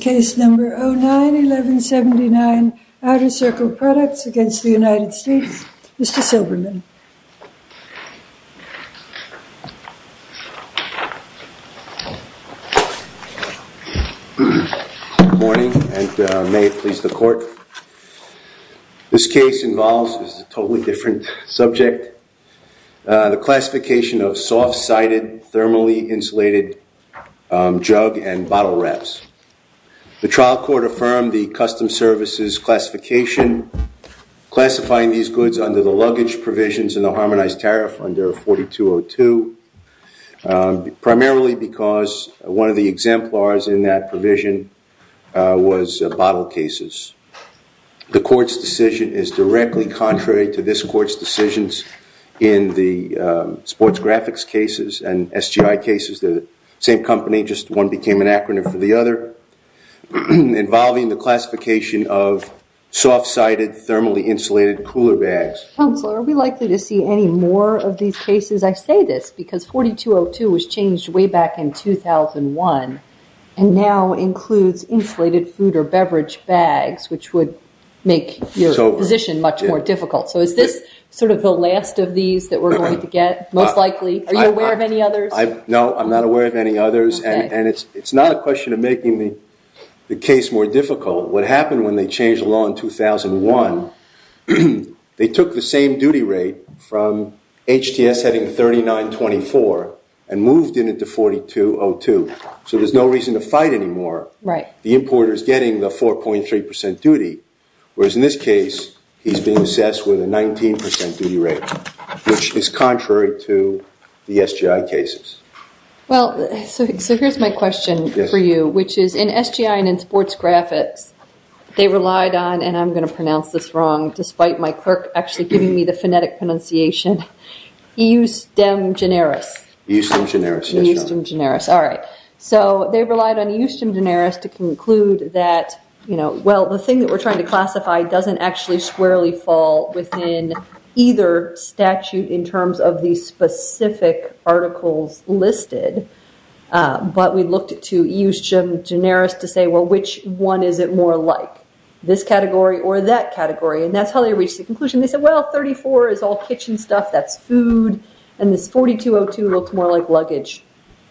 Case Number 09-1179 Outer Circle Products v. United States Mr. Silberman. Good morning and may it please the court. This case involves a totally different subject. The classification of soft-sided thermally insulated jug and bottle wraps. The trial court affirmed the custom services classification, classifying these goods under the luggage provisions in the harmonized tariff under 4202. Primarily because one of the exemplars in that provision was bottle cases. The court's decision is directly contrary to this court's decisions in the sports graphics cases and SGI cases. They're the same company, just one became an acronym for the other. Involving the classification of soft-sided thermally insulated cooler bags. Counselor, are we likely to see any more of these cases? Because I say this because 4202 was changed way back in 2001 and now includes insulated food or beverage bags which would make your position much more difficult. So is this sort of the last of these that we're going to get most likely? Are you aware of any others? No, I'm not aware of any others and it's not a question of making the case more difficult. What happened when they changed the law in 2001, they took the same duty rate from HTS heading 3924 and moved it into 4202. So there's no reason to fight anymore. The importer is getting the 4.3% duty, whereas in this case he's being assessed with a 19% duty rate, which is contrary to the SGI cases. Well, so here's my question for you, which is in SGI and in sports graphics, they relied on, and I'm going to pronounce this wrong despite my clerk actually giving me the phonetic pronunciation, eustem generis. Eustem generis, yes. Eustem generis, all right. So they relied on eustem generis to conclude that, well, the thing that we're trying to classify doesn't actually squarely fall within either statute in terms of the specific articles listed. But we looked to eustem generis to say, well, which one is it more like, this category or that category? And that's how they reached the conclusion. They said, well, 34 is all kitchen stuff, that's food, and this 4202 looks more like luggage.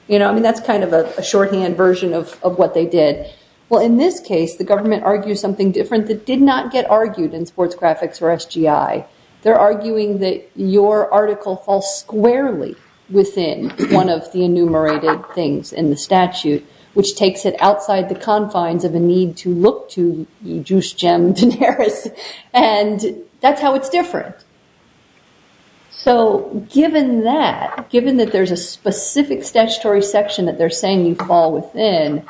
I mean, that's kind of a shorthand version of what they did. Well, in this case, the government argues something different that did not get argued in sports graphics or SGI. They're arguing that your article falls squarely within one of the enumerated things in the statute, which takes it outside the confines of a need to look to eustem generis, and that's how it's different. So given that, given that there's a specific statutory section that they're saying you fall within,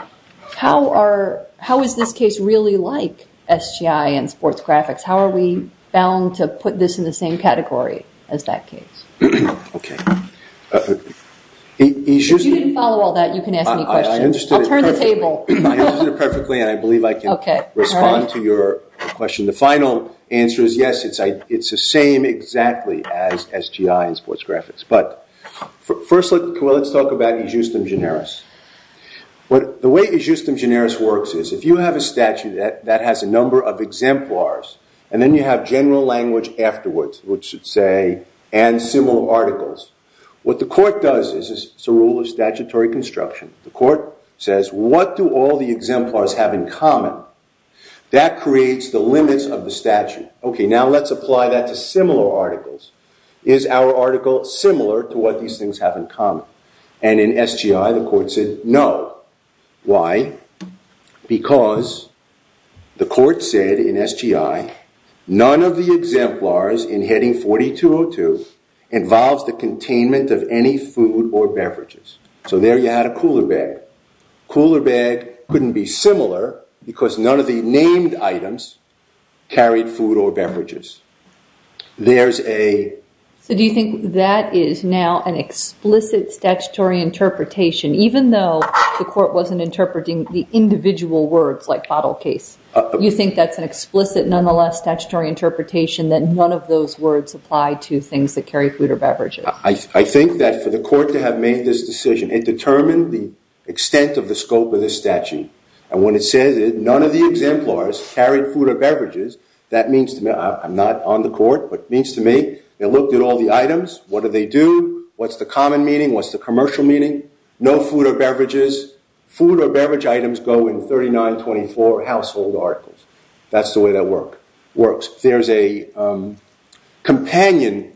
how is this case really like SGI and sports graphics? How are we bound to put this in the same category as that case? Okay. If you didn't follow all that, you can ask me questions. I understood it perfectly, and I believe I can respond to your question. The final answer is yes, it's the same exactly as SGI and sports graphics. But first, let's talk about eustem generis. The way eustem generis works is if you have a statute that has a number of exemplars, and then you have general language afterwards, which should say, and similar articles, what the court does is it's a rule of statutory construction. The court says, what do all the exemplars have in common? That creates the limits of the statute. Okay, now let's apply that to similar articles. Is our article similar to what these things have in common? And in SGI, the court said no. Why? Because the court said in SGI, none of the exemplars in heading 4202 involves the containment of any food or beverages. So there you had a cooler bag. Cooler bag couldn't be similar because none of the named items carried food or beverages. There's a- So do you think that is now an explicit statutory interpretation, even though the court wasn't interpreting the individual words like bottle case? You think that's an explicit, nonetheless, statutory interpretation that none of those words apply to things that carry food or beverages? I think that for the court to have made this decision, it determined the extent of the scope of this statute. And when it says that none of the exemplars carried food or beverages, that means to me- I'm not on the court, but it means to me they looked at all the items. What do they do? What's the common meaning? What's the commercial meaning? No food or beverages. Food or beverage items go in 3924 household articles. That's the way that works. There's a companion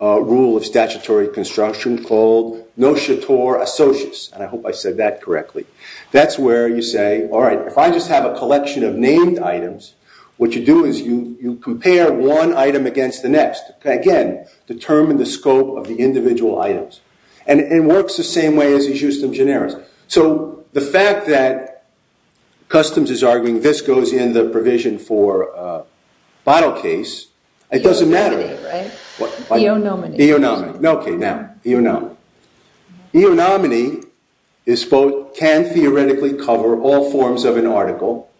rule of statutory construction called notator associus. And I hope I said that correctly. That's where you say, all right, if I just have a collection of named items, what you do is you compare one item against the next. Again, determine the scope of the individual items. And it works the same way as the justum generis. So the fact that customs is arguing this goes in the provision for a bottle case, it doesn't matter. Eonominy, right? Eonominy. Eonominy. Okay, now, eonominy. Eonominy can theoretically cover all forms of an article,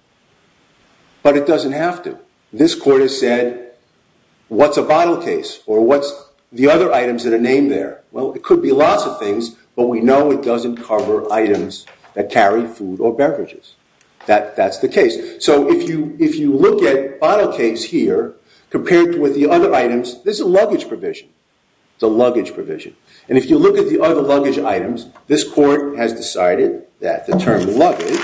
but it doesn't have to. This court has said, what's a bottle case? Or what's the other items that are named there? Well, it could be lots of things, but we know it doesn't cover items that carry food or beverages. That's the case. So if you look at bottle case here compared with the other items, this is a luggage provision. It's a luggage provision. And if you look at the other luggage items, this court has decided that the term luggage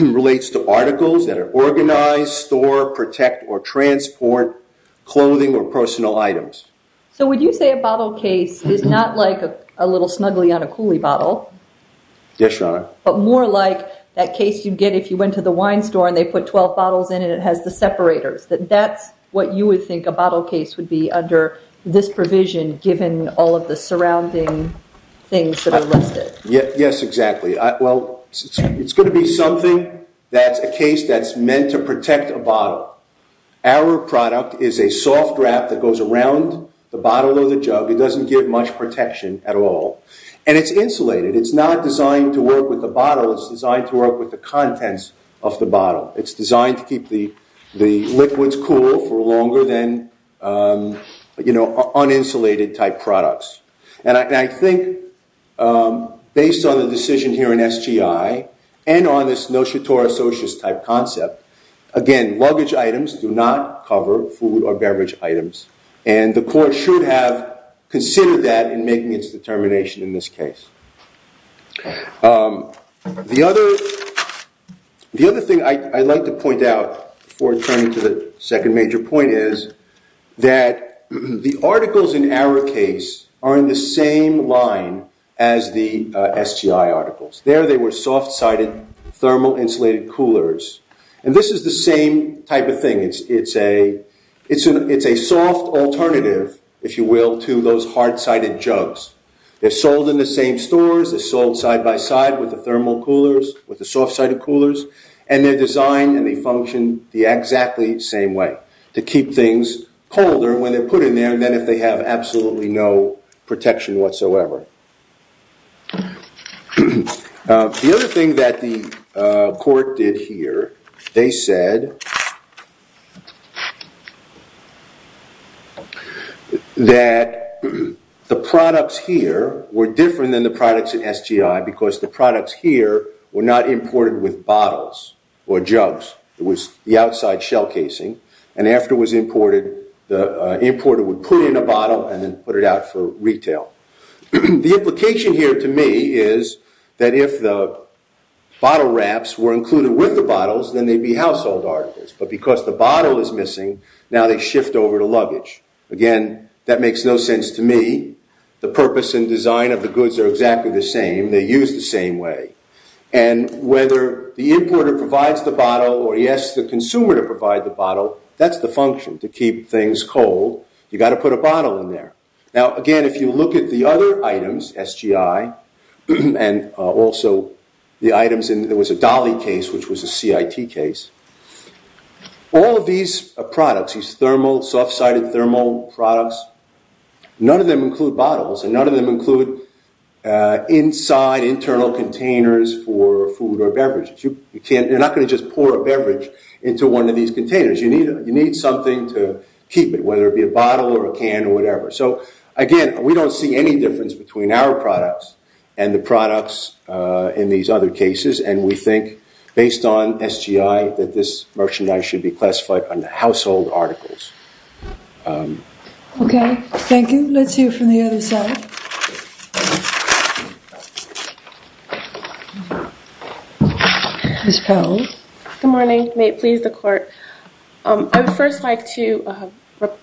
relates to articles that are organized, store, protect, or transport clothing or personal items. So would you say a bottle case is not like a little Snuggly on a Cooley bottle? Yes, Your Honor. But more like that case you'd get if you went to the wine store and they put 12 bottles in and it has the separators, that that's what you would think a bottle case would be under this provision given all of the surrounding things that are listed. Yes, exactly. Well, it's going to be something that's a case that's meant to protect a bottle. Our product is a soft wrap that goes around the bottle or the jug. It doesn't give much protection at all. And it's insulated. It's not designed to work with the bottle. It's designed to work with the contents of the bottle. It's designed to keep the liquids cool for longer than, you know, uninsulated type products. And I think based on the decision here in SGI and on this notions to our associates type concept, again, luggage items do not cover food or beverage items. And the court should have considered that in making its determination in this case. The other thing I'd like to point out before turning to the second major point is that the articles in our case are in the same line as the SGI articles. There they were soft sided thermal insulated coolers. And this is the same type of thing. It's a soft alternative, if you will, to those hard sided jugs. They're sold in the same stores. They're sold side by side with the thermal coolers, with the soft sided coolers. And they're designed and they function the exactly same way, to keep things colder when they're put in there than if they have absolutely no protection whatsoever. The other thing that the court did here, they said that the products here were different than the products in SGI because the products here were not imported with bottles or jugs. It was the outside shell casing. And after it was imported, the importer would put in a bottle and then put it out for retail. The implication here to me is that if the bottle wraps were included with the bottles, then they'd be household articles. But because the bottle is missing, now they shift over to luggage. Again, that makes no sense to me. The purpose and design of the goods are exactly the same. They're used the same way. And whether the importer provides the bottle or he asks the consumer to provide the bottle, that's the function, to keep things cold. You've got to put a bottle in there. Now, again, if you look at the other items, SGI and also the items, there was a Dahle case, which was a CIT case. All of these products, these soft-sided thermal products, none of them include bottles and none of them include inside internal containers for food or beverages. You're not going to just pour a beverage into one of these containers. You need something to keep it, whether it be a bottle or a can or whatever. So, again, we don't see any difference between our products and the products in these other cases. And we think, based on SGI, that this merchandise should be classified under household articles. Okay, thank you. Let's hear from the other side. Ms. Powell. Good morning. May it please the Court. I would first like to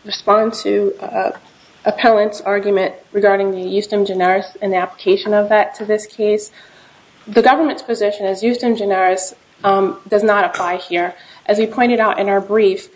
respond to Appellant's argument regarding the justem generis and the application of that to this case. The government's position is justem generis does not apply here. As we pointed out in our brief,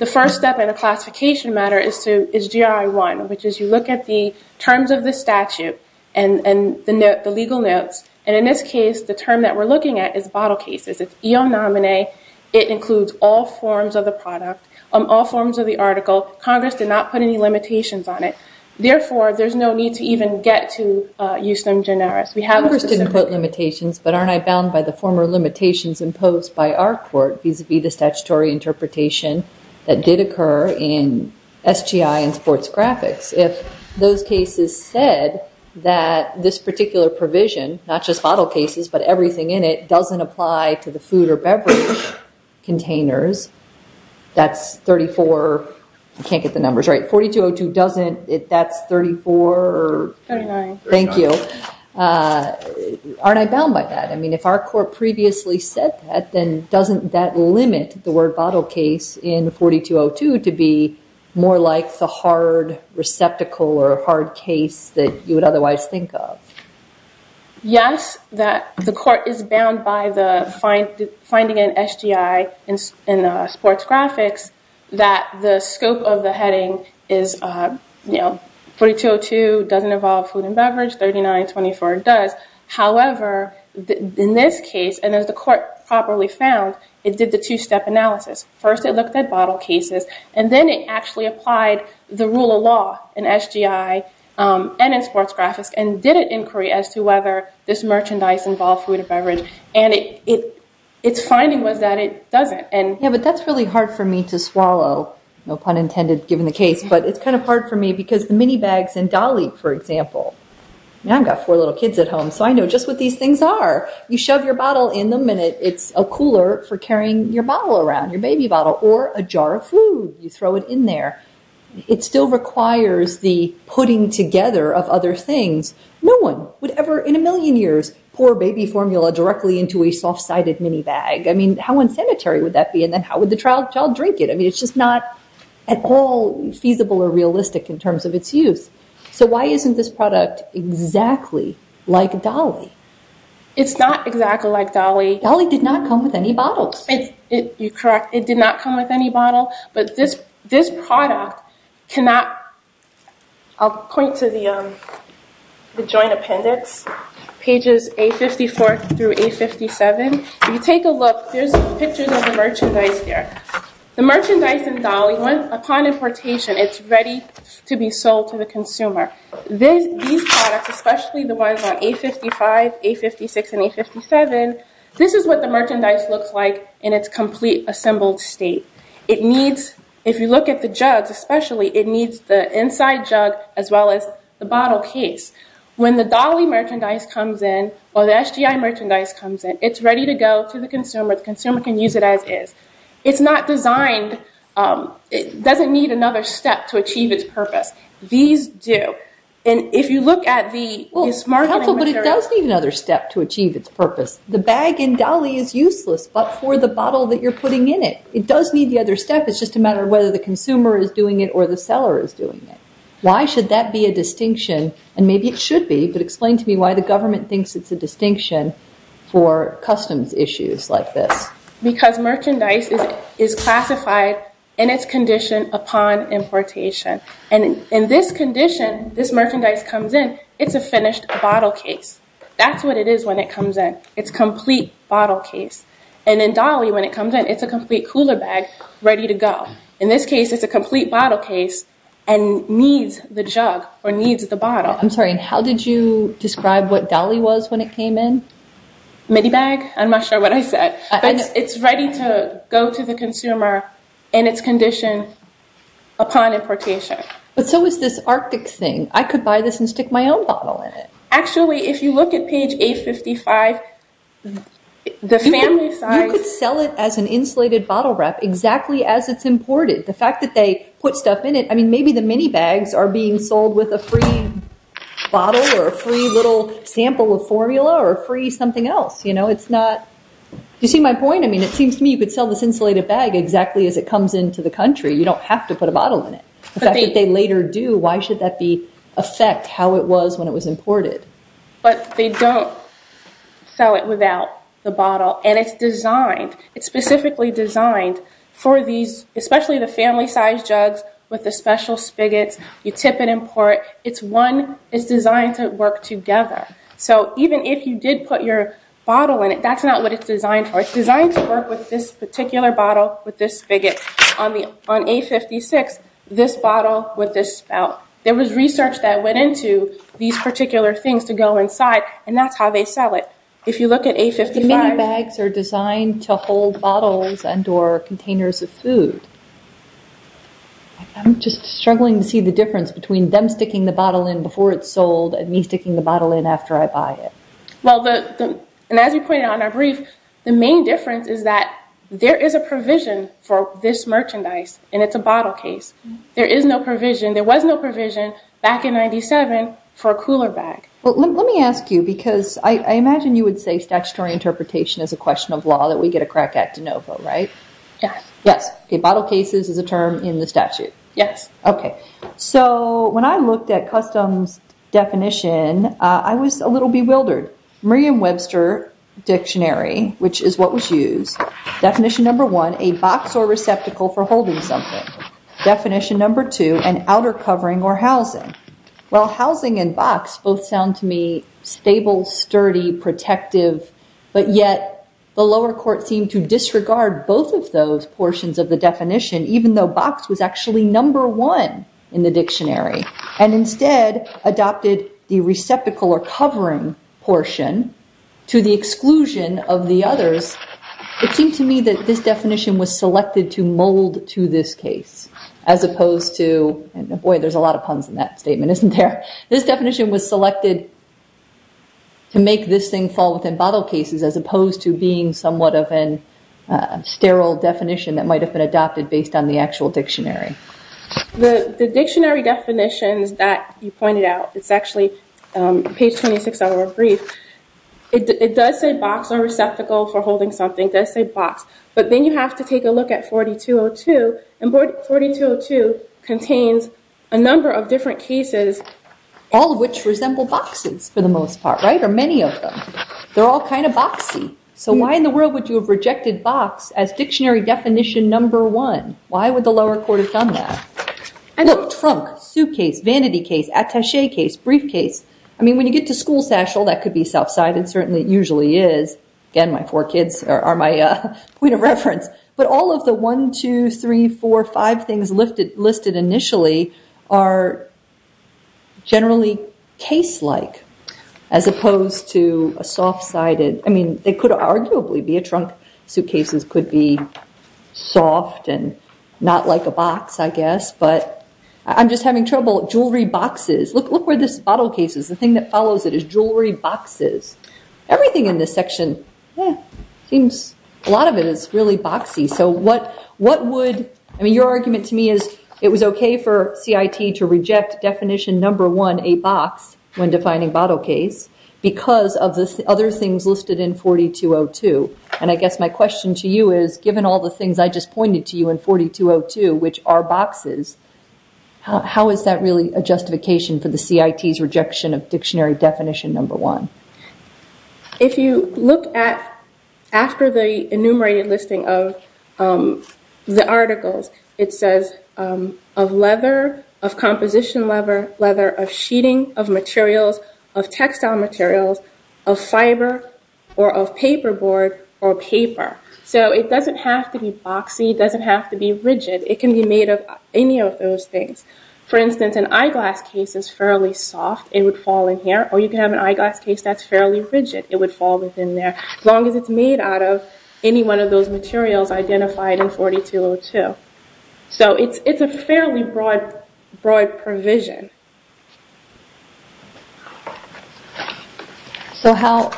the first step in a classification matter is GRI 1, which is you look at the terms of the statute and the legal notes. And in this case, the term that we're looking at is bottle cases. It's eonamine. It includes all forms of the product, all forms of the article. Congress did not put any limitations on it. Therefore, there's no need to even get to justem generis. Congress didn't put limitations, but aren't I bound by the former limitations imposed by our court, vis-a-vis the statutory interpretation that did occur in SGI and sports graphics? If those cases said that this particular provision, not just bottle cases but everything in it, doesn't apply to the food or beverage containers, that's 34. I can't get the numbers right. 4202 doesn't. That's 34. 39. Thank you. Aren't I bound by that? I mean, if our court previously said that, then doesn't that limit the word bottle case in 4202 to be more like the hard receptacle or hard case that you would otherwise think of? Yes, the court is bound by the finding in SGI in sports graphics that the scope of the heading is, you know, 4202 doesn't involve food and beverage, 3924 does. However, in this case, and as the court properly found, it did the two-step analysis. First, it looked at bottle cases, and then it actually applied the rule of law in SGI and in sports graphics, and did an inquiry as to whether this merchandise involved food and beverage. And its finding was that it doesn't. Yeah, but that's really hard for me to swallow, no pun intended, given the case. But it's kind of hard for me because the mini bags in Dolly, for example. I've got four little kids at home, so I know just what these things are. You shove your bottle in them, and it's a cooler for carrying your bottle around, your baby bottle, or a jar of food. You throw it in there. It still requires the putting together of other things. No one would ever, in a million years, pour baby formula directly into a soft-sided mini bag. I mean, how unsanitary would that be? And then how would the child drink it? I mean, it's just not at all feasible or realistic in terms of its use. So why isn't this product exactly like Dolly? It's not exactly like Dolly. Dolly did not come with any bottles. You're correct. It did not come with any bottle. But this product cannot—I'll point to the joint appendix, pages A54 through A57. If you take a look, there's pictures of the merchandise there. The merchandise in Dolly, upon importation, it's ready to be sold to the consumer. These products, especially the ones on A55, A56, and A57, this is what the merchandise looks like in its complete assembled state. If you look at the jugs especially, it needs the inside jug as well as the bottle case. When the Dolly merchandise comes in, or the SGI merchandise comes in, it's ready to go to the consumer. The consumer can use it as is. It's not designed—it doesn't need another step to achieve its purpose. These do. And if you look at the— Well, counsel, but it does need another step to achieve its purpose. The bag in Dolly is useless but for the bottle that you're putting in it. It does need the other step. It's just a matter of whether the consumer is doing it or the seller is doing it. Why should that be a distinction? And maybe it should be, but explain to me why the government thinks it's a distinction for customs issues like this. Because merchandise is classified in its condition upon importation. And in this condition, this merchandise comes in, it's a finished bottle case. That's what it is when it comes in. It's a complete bottle case. And in Dolly, when it comes in, it's a complete cooler bag ready to go. In this case, it's a complete bottle case and needs the jug or needs the bottle. I'm sorry. How did you describe what Dolly was when it came in? Mini bag? I'm not sure what I said. It's ready to go to the consumer in its condition upon importation. But so is this Arctic thing. I could buy this and stick my own bottle in it. Actually, if you look at page 855, the family size- You could sell it as an insulated bottle wrap exactly as it's imported. The fact that they put stuff in it, I mean, maybe the mini bags are being sold with a free bottle or a free little sample of formula or a free something else. Do you see my point? I mean, it seems to me you could sell this insulated bag exactly as it comes into the country. You don't have to put a bottle in it. The fact that they later do, why should that affect how it was when it was imported? But they don't sell it without the bottle. And it's designed. It's specifically designed for these, especially the family size jugs with the special spigots. You tip and import. It's designed to work together. So even if you did put your bottle in it, that's not what it's designed for. It's designed to work with this particular bottle with this spigot. On A56, this bottle with this spout. There was research that went into these particular things to go inside, and that's how they sell it. If you look at A55- Mini bags are designed to hold bottles and or containers of food. I'm just struggling to see the difference between them sticking the bottle in before it's sold and me sticking the bottle in after I buy it. Well, and as you pointed out in our brief, the main difference is that there is a provision for this merchandise, and it's a bottle case. There is no provision. There was no provision back in 97 for a cooler bag. Well, let me ask you, because I imagine you would say statutory interpretation is a question of law that we get a crack at de novo, right? Yes. Yes. Bottle cases is a term in the statute. Yes. Okay. When I looked at customs definition, I was a little bewildered. Merriam-Webster Dictionary, which is what was used, definition number one, a box or receptacle for holding something. Definition number two, an outer covering or housing. Well, housing and box both sound to me stable, sturdy, protective, but yet the lower court seemed to disregard both of those portions of the definition, even though box was actually number one in the dictionary and instead adopted the receptacle or covering portion to the exclusion of the others. It seemed to me that this definition was selected to mold to this case as opposed to, boy, there's a lot of puns in that statement, isn't there? This definition was selected to make this thing fall within bottle cases as opposed to being somewhat of a sterile definition that might have been adopted based on the actual dictionary. The dictionary definitions that you pointed out, it's actually page 26 of our brief. It does say box or receptacle for holding something. It does say box, but then you have to take a look at 4202, and 4202 contains a number of different cases. All of which resemble boxes for the most part, right, or many of them. They're all kind of boxy. So why in the world would you have rejected box as dictionary definition number one? Why would the lower court have done that? And look, trunk, suitcase, vanity case, attache case, briefcase. I mean, when you get to school satchel, that could be self-cited. It certainly usually is. Again, my four kids are my point of reference. But all of the one, two, three, four, five things listed initially are generally case-like as opposed to a soft-sided. I mean, they could arguably be a trunk. Suitcases could be soft and not like a box, I guess. But I'm just having trouble. Jewelry boxes. Look where this bottle case is. The thing that follows it is jewelry boxes. Everything in this section seems, a lot of it is really boxy. So what would, I mean, your argument to me is it was okay for CIT to reject definition number one, a box, when defining bottle case, because of the other things listed in 4202. And I guess my question to you is, given all the things I just pointed to you in 4202, which are boxes, how is that really a justification for the CIT's rejection of dictionary definition number one? If you look at, after the enumerated listing of the articles, it says of leather, of composition leather, leather of sheeting, of materials, of textile materials, of fiber, or of paperboard, or paper. So it doesn't have to be boxy. It doesn't have to be rigid. It can be made of any of those things. For instance, an eyeglass case is fairly soft. It would fall in here. Or you can have an eyeglass case that's fairly rigid. It would fall within there, as long as it's made out of any one of those materials identified in 4202. So it's a fairly broad provision.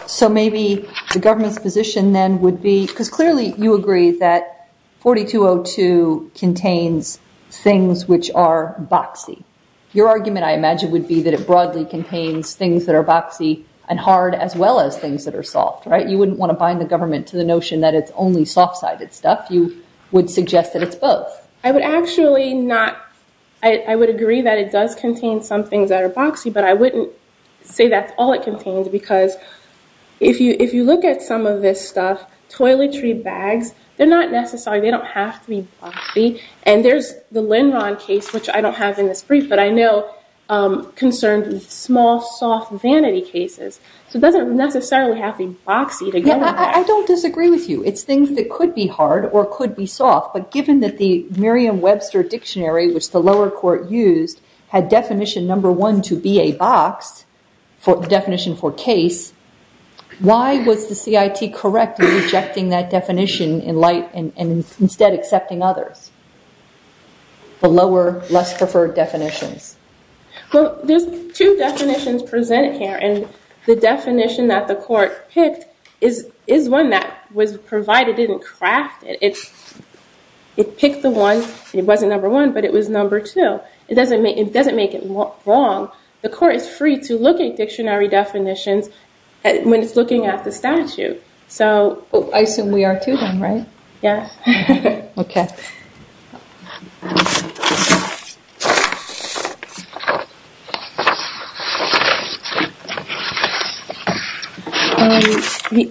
So maybe the government's position then would be, because clearly you agree that 4202 contains things which are boxy. Your argument, I imagine, would be that it broadly contains things that are boxy and hard, as well as things that are soft. You wouldn't want to bind the government to the notion that it's only soft-sided stuff. You would suggest that it's both. I would agree that it does contain some things that are boxy. But I wouldn't say that's all it contains. Because if you look at some of this stuff, toiletry bags, they're not necessary. They don't have to be boxy. And there's the Linron case, which I don't have in this brief, but I know concerns small, soft vanity cases. So it doesn't necessarily have to be boxy to get it back. I don't disagree with you. It's things that could be hard or could be soft. But given that the Merriam-Webster Dictionary, which the lower court used, had definition number one to be a box, the definition for case, why was the CIT correct in rejecting that definition and instead accepting others, the lower, less preferred definitions? Well, there's two definitions presented here. And the definition that the court picked is one that was provided and crafted. It picked the one. It wasn't number one, but it was number two. It doesn't make it wrong. The court is free to look at dictionary definitions when it's looking at the statute. I assume we are to them, right? Yes. Okay. As we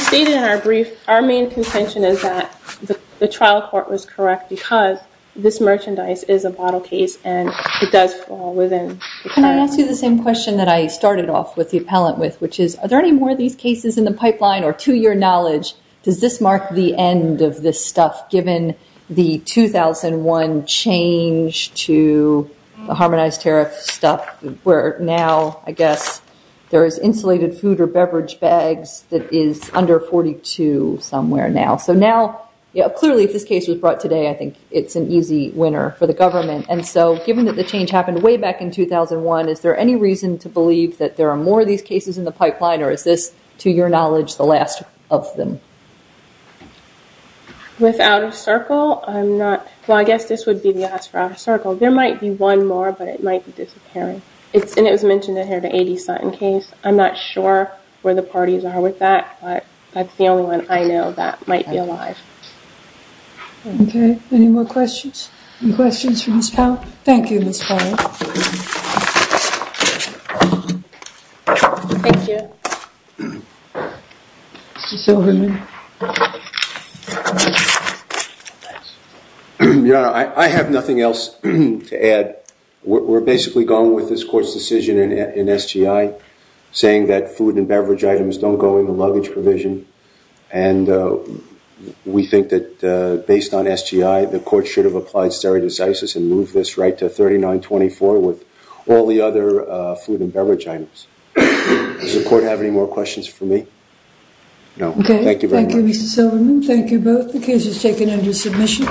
stated in our brief, our main contention is that the trial court was correct because this merchandise is a bottle case and it does fall within the time frame. Can I ask you the same question that I started off with the appellant with, which is, are there any more of these cases in the pipeline, or to your knowledge, does this mark the end of this stuff, given the 2001 change to the harmonized tariff stuff, where now, I guess, there is insulated food or beverage bags that is under 42 somewhere now. So now, clearly, if this case was brought today, I think it's an easy winner for the government. And so given that the change happened way back in 2001, is there any reason to believe that there are more of these cases in the pipeline, or is this, to your knowledge, the last of them? Without a circle, I'm not – well, I guess this would be the answer, without a circle. There might be one more, but it might be disappearing. And it was mentioned in here, the A.D. Sutton case. I'm not sure where the parties are with that, but that's the only one I know that might be alive. Okay. Any more questions? Any questions for Ms. Powell? Thank you, Ms. Powell. Thank you. Mr. Silverman? Yeah, I have nothing else to add. We're basically going with this court's decision in SGI, saying that food and beverage items don't go in the luggage provision. And we think that based on SGI, the court should have applied stare decisis and move this right to 3924 with all the other food and beverage items. Does the court have any more questions for me? No. Okay. Thank you very much. Thank you, Mr. Silverman. Thank you both. The case is taken under submission.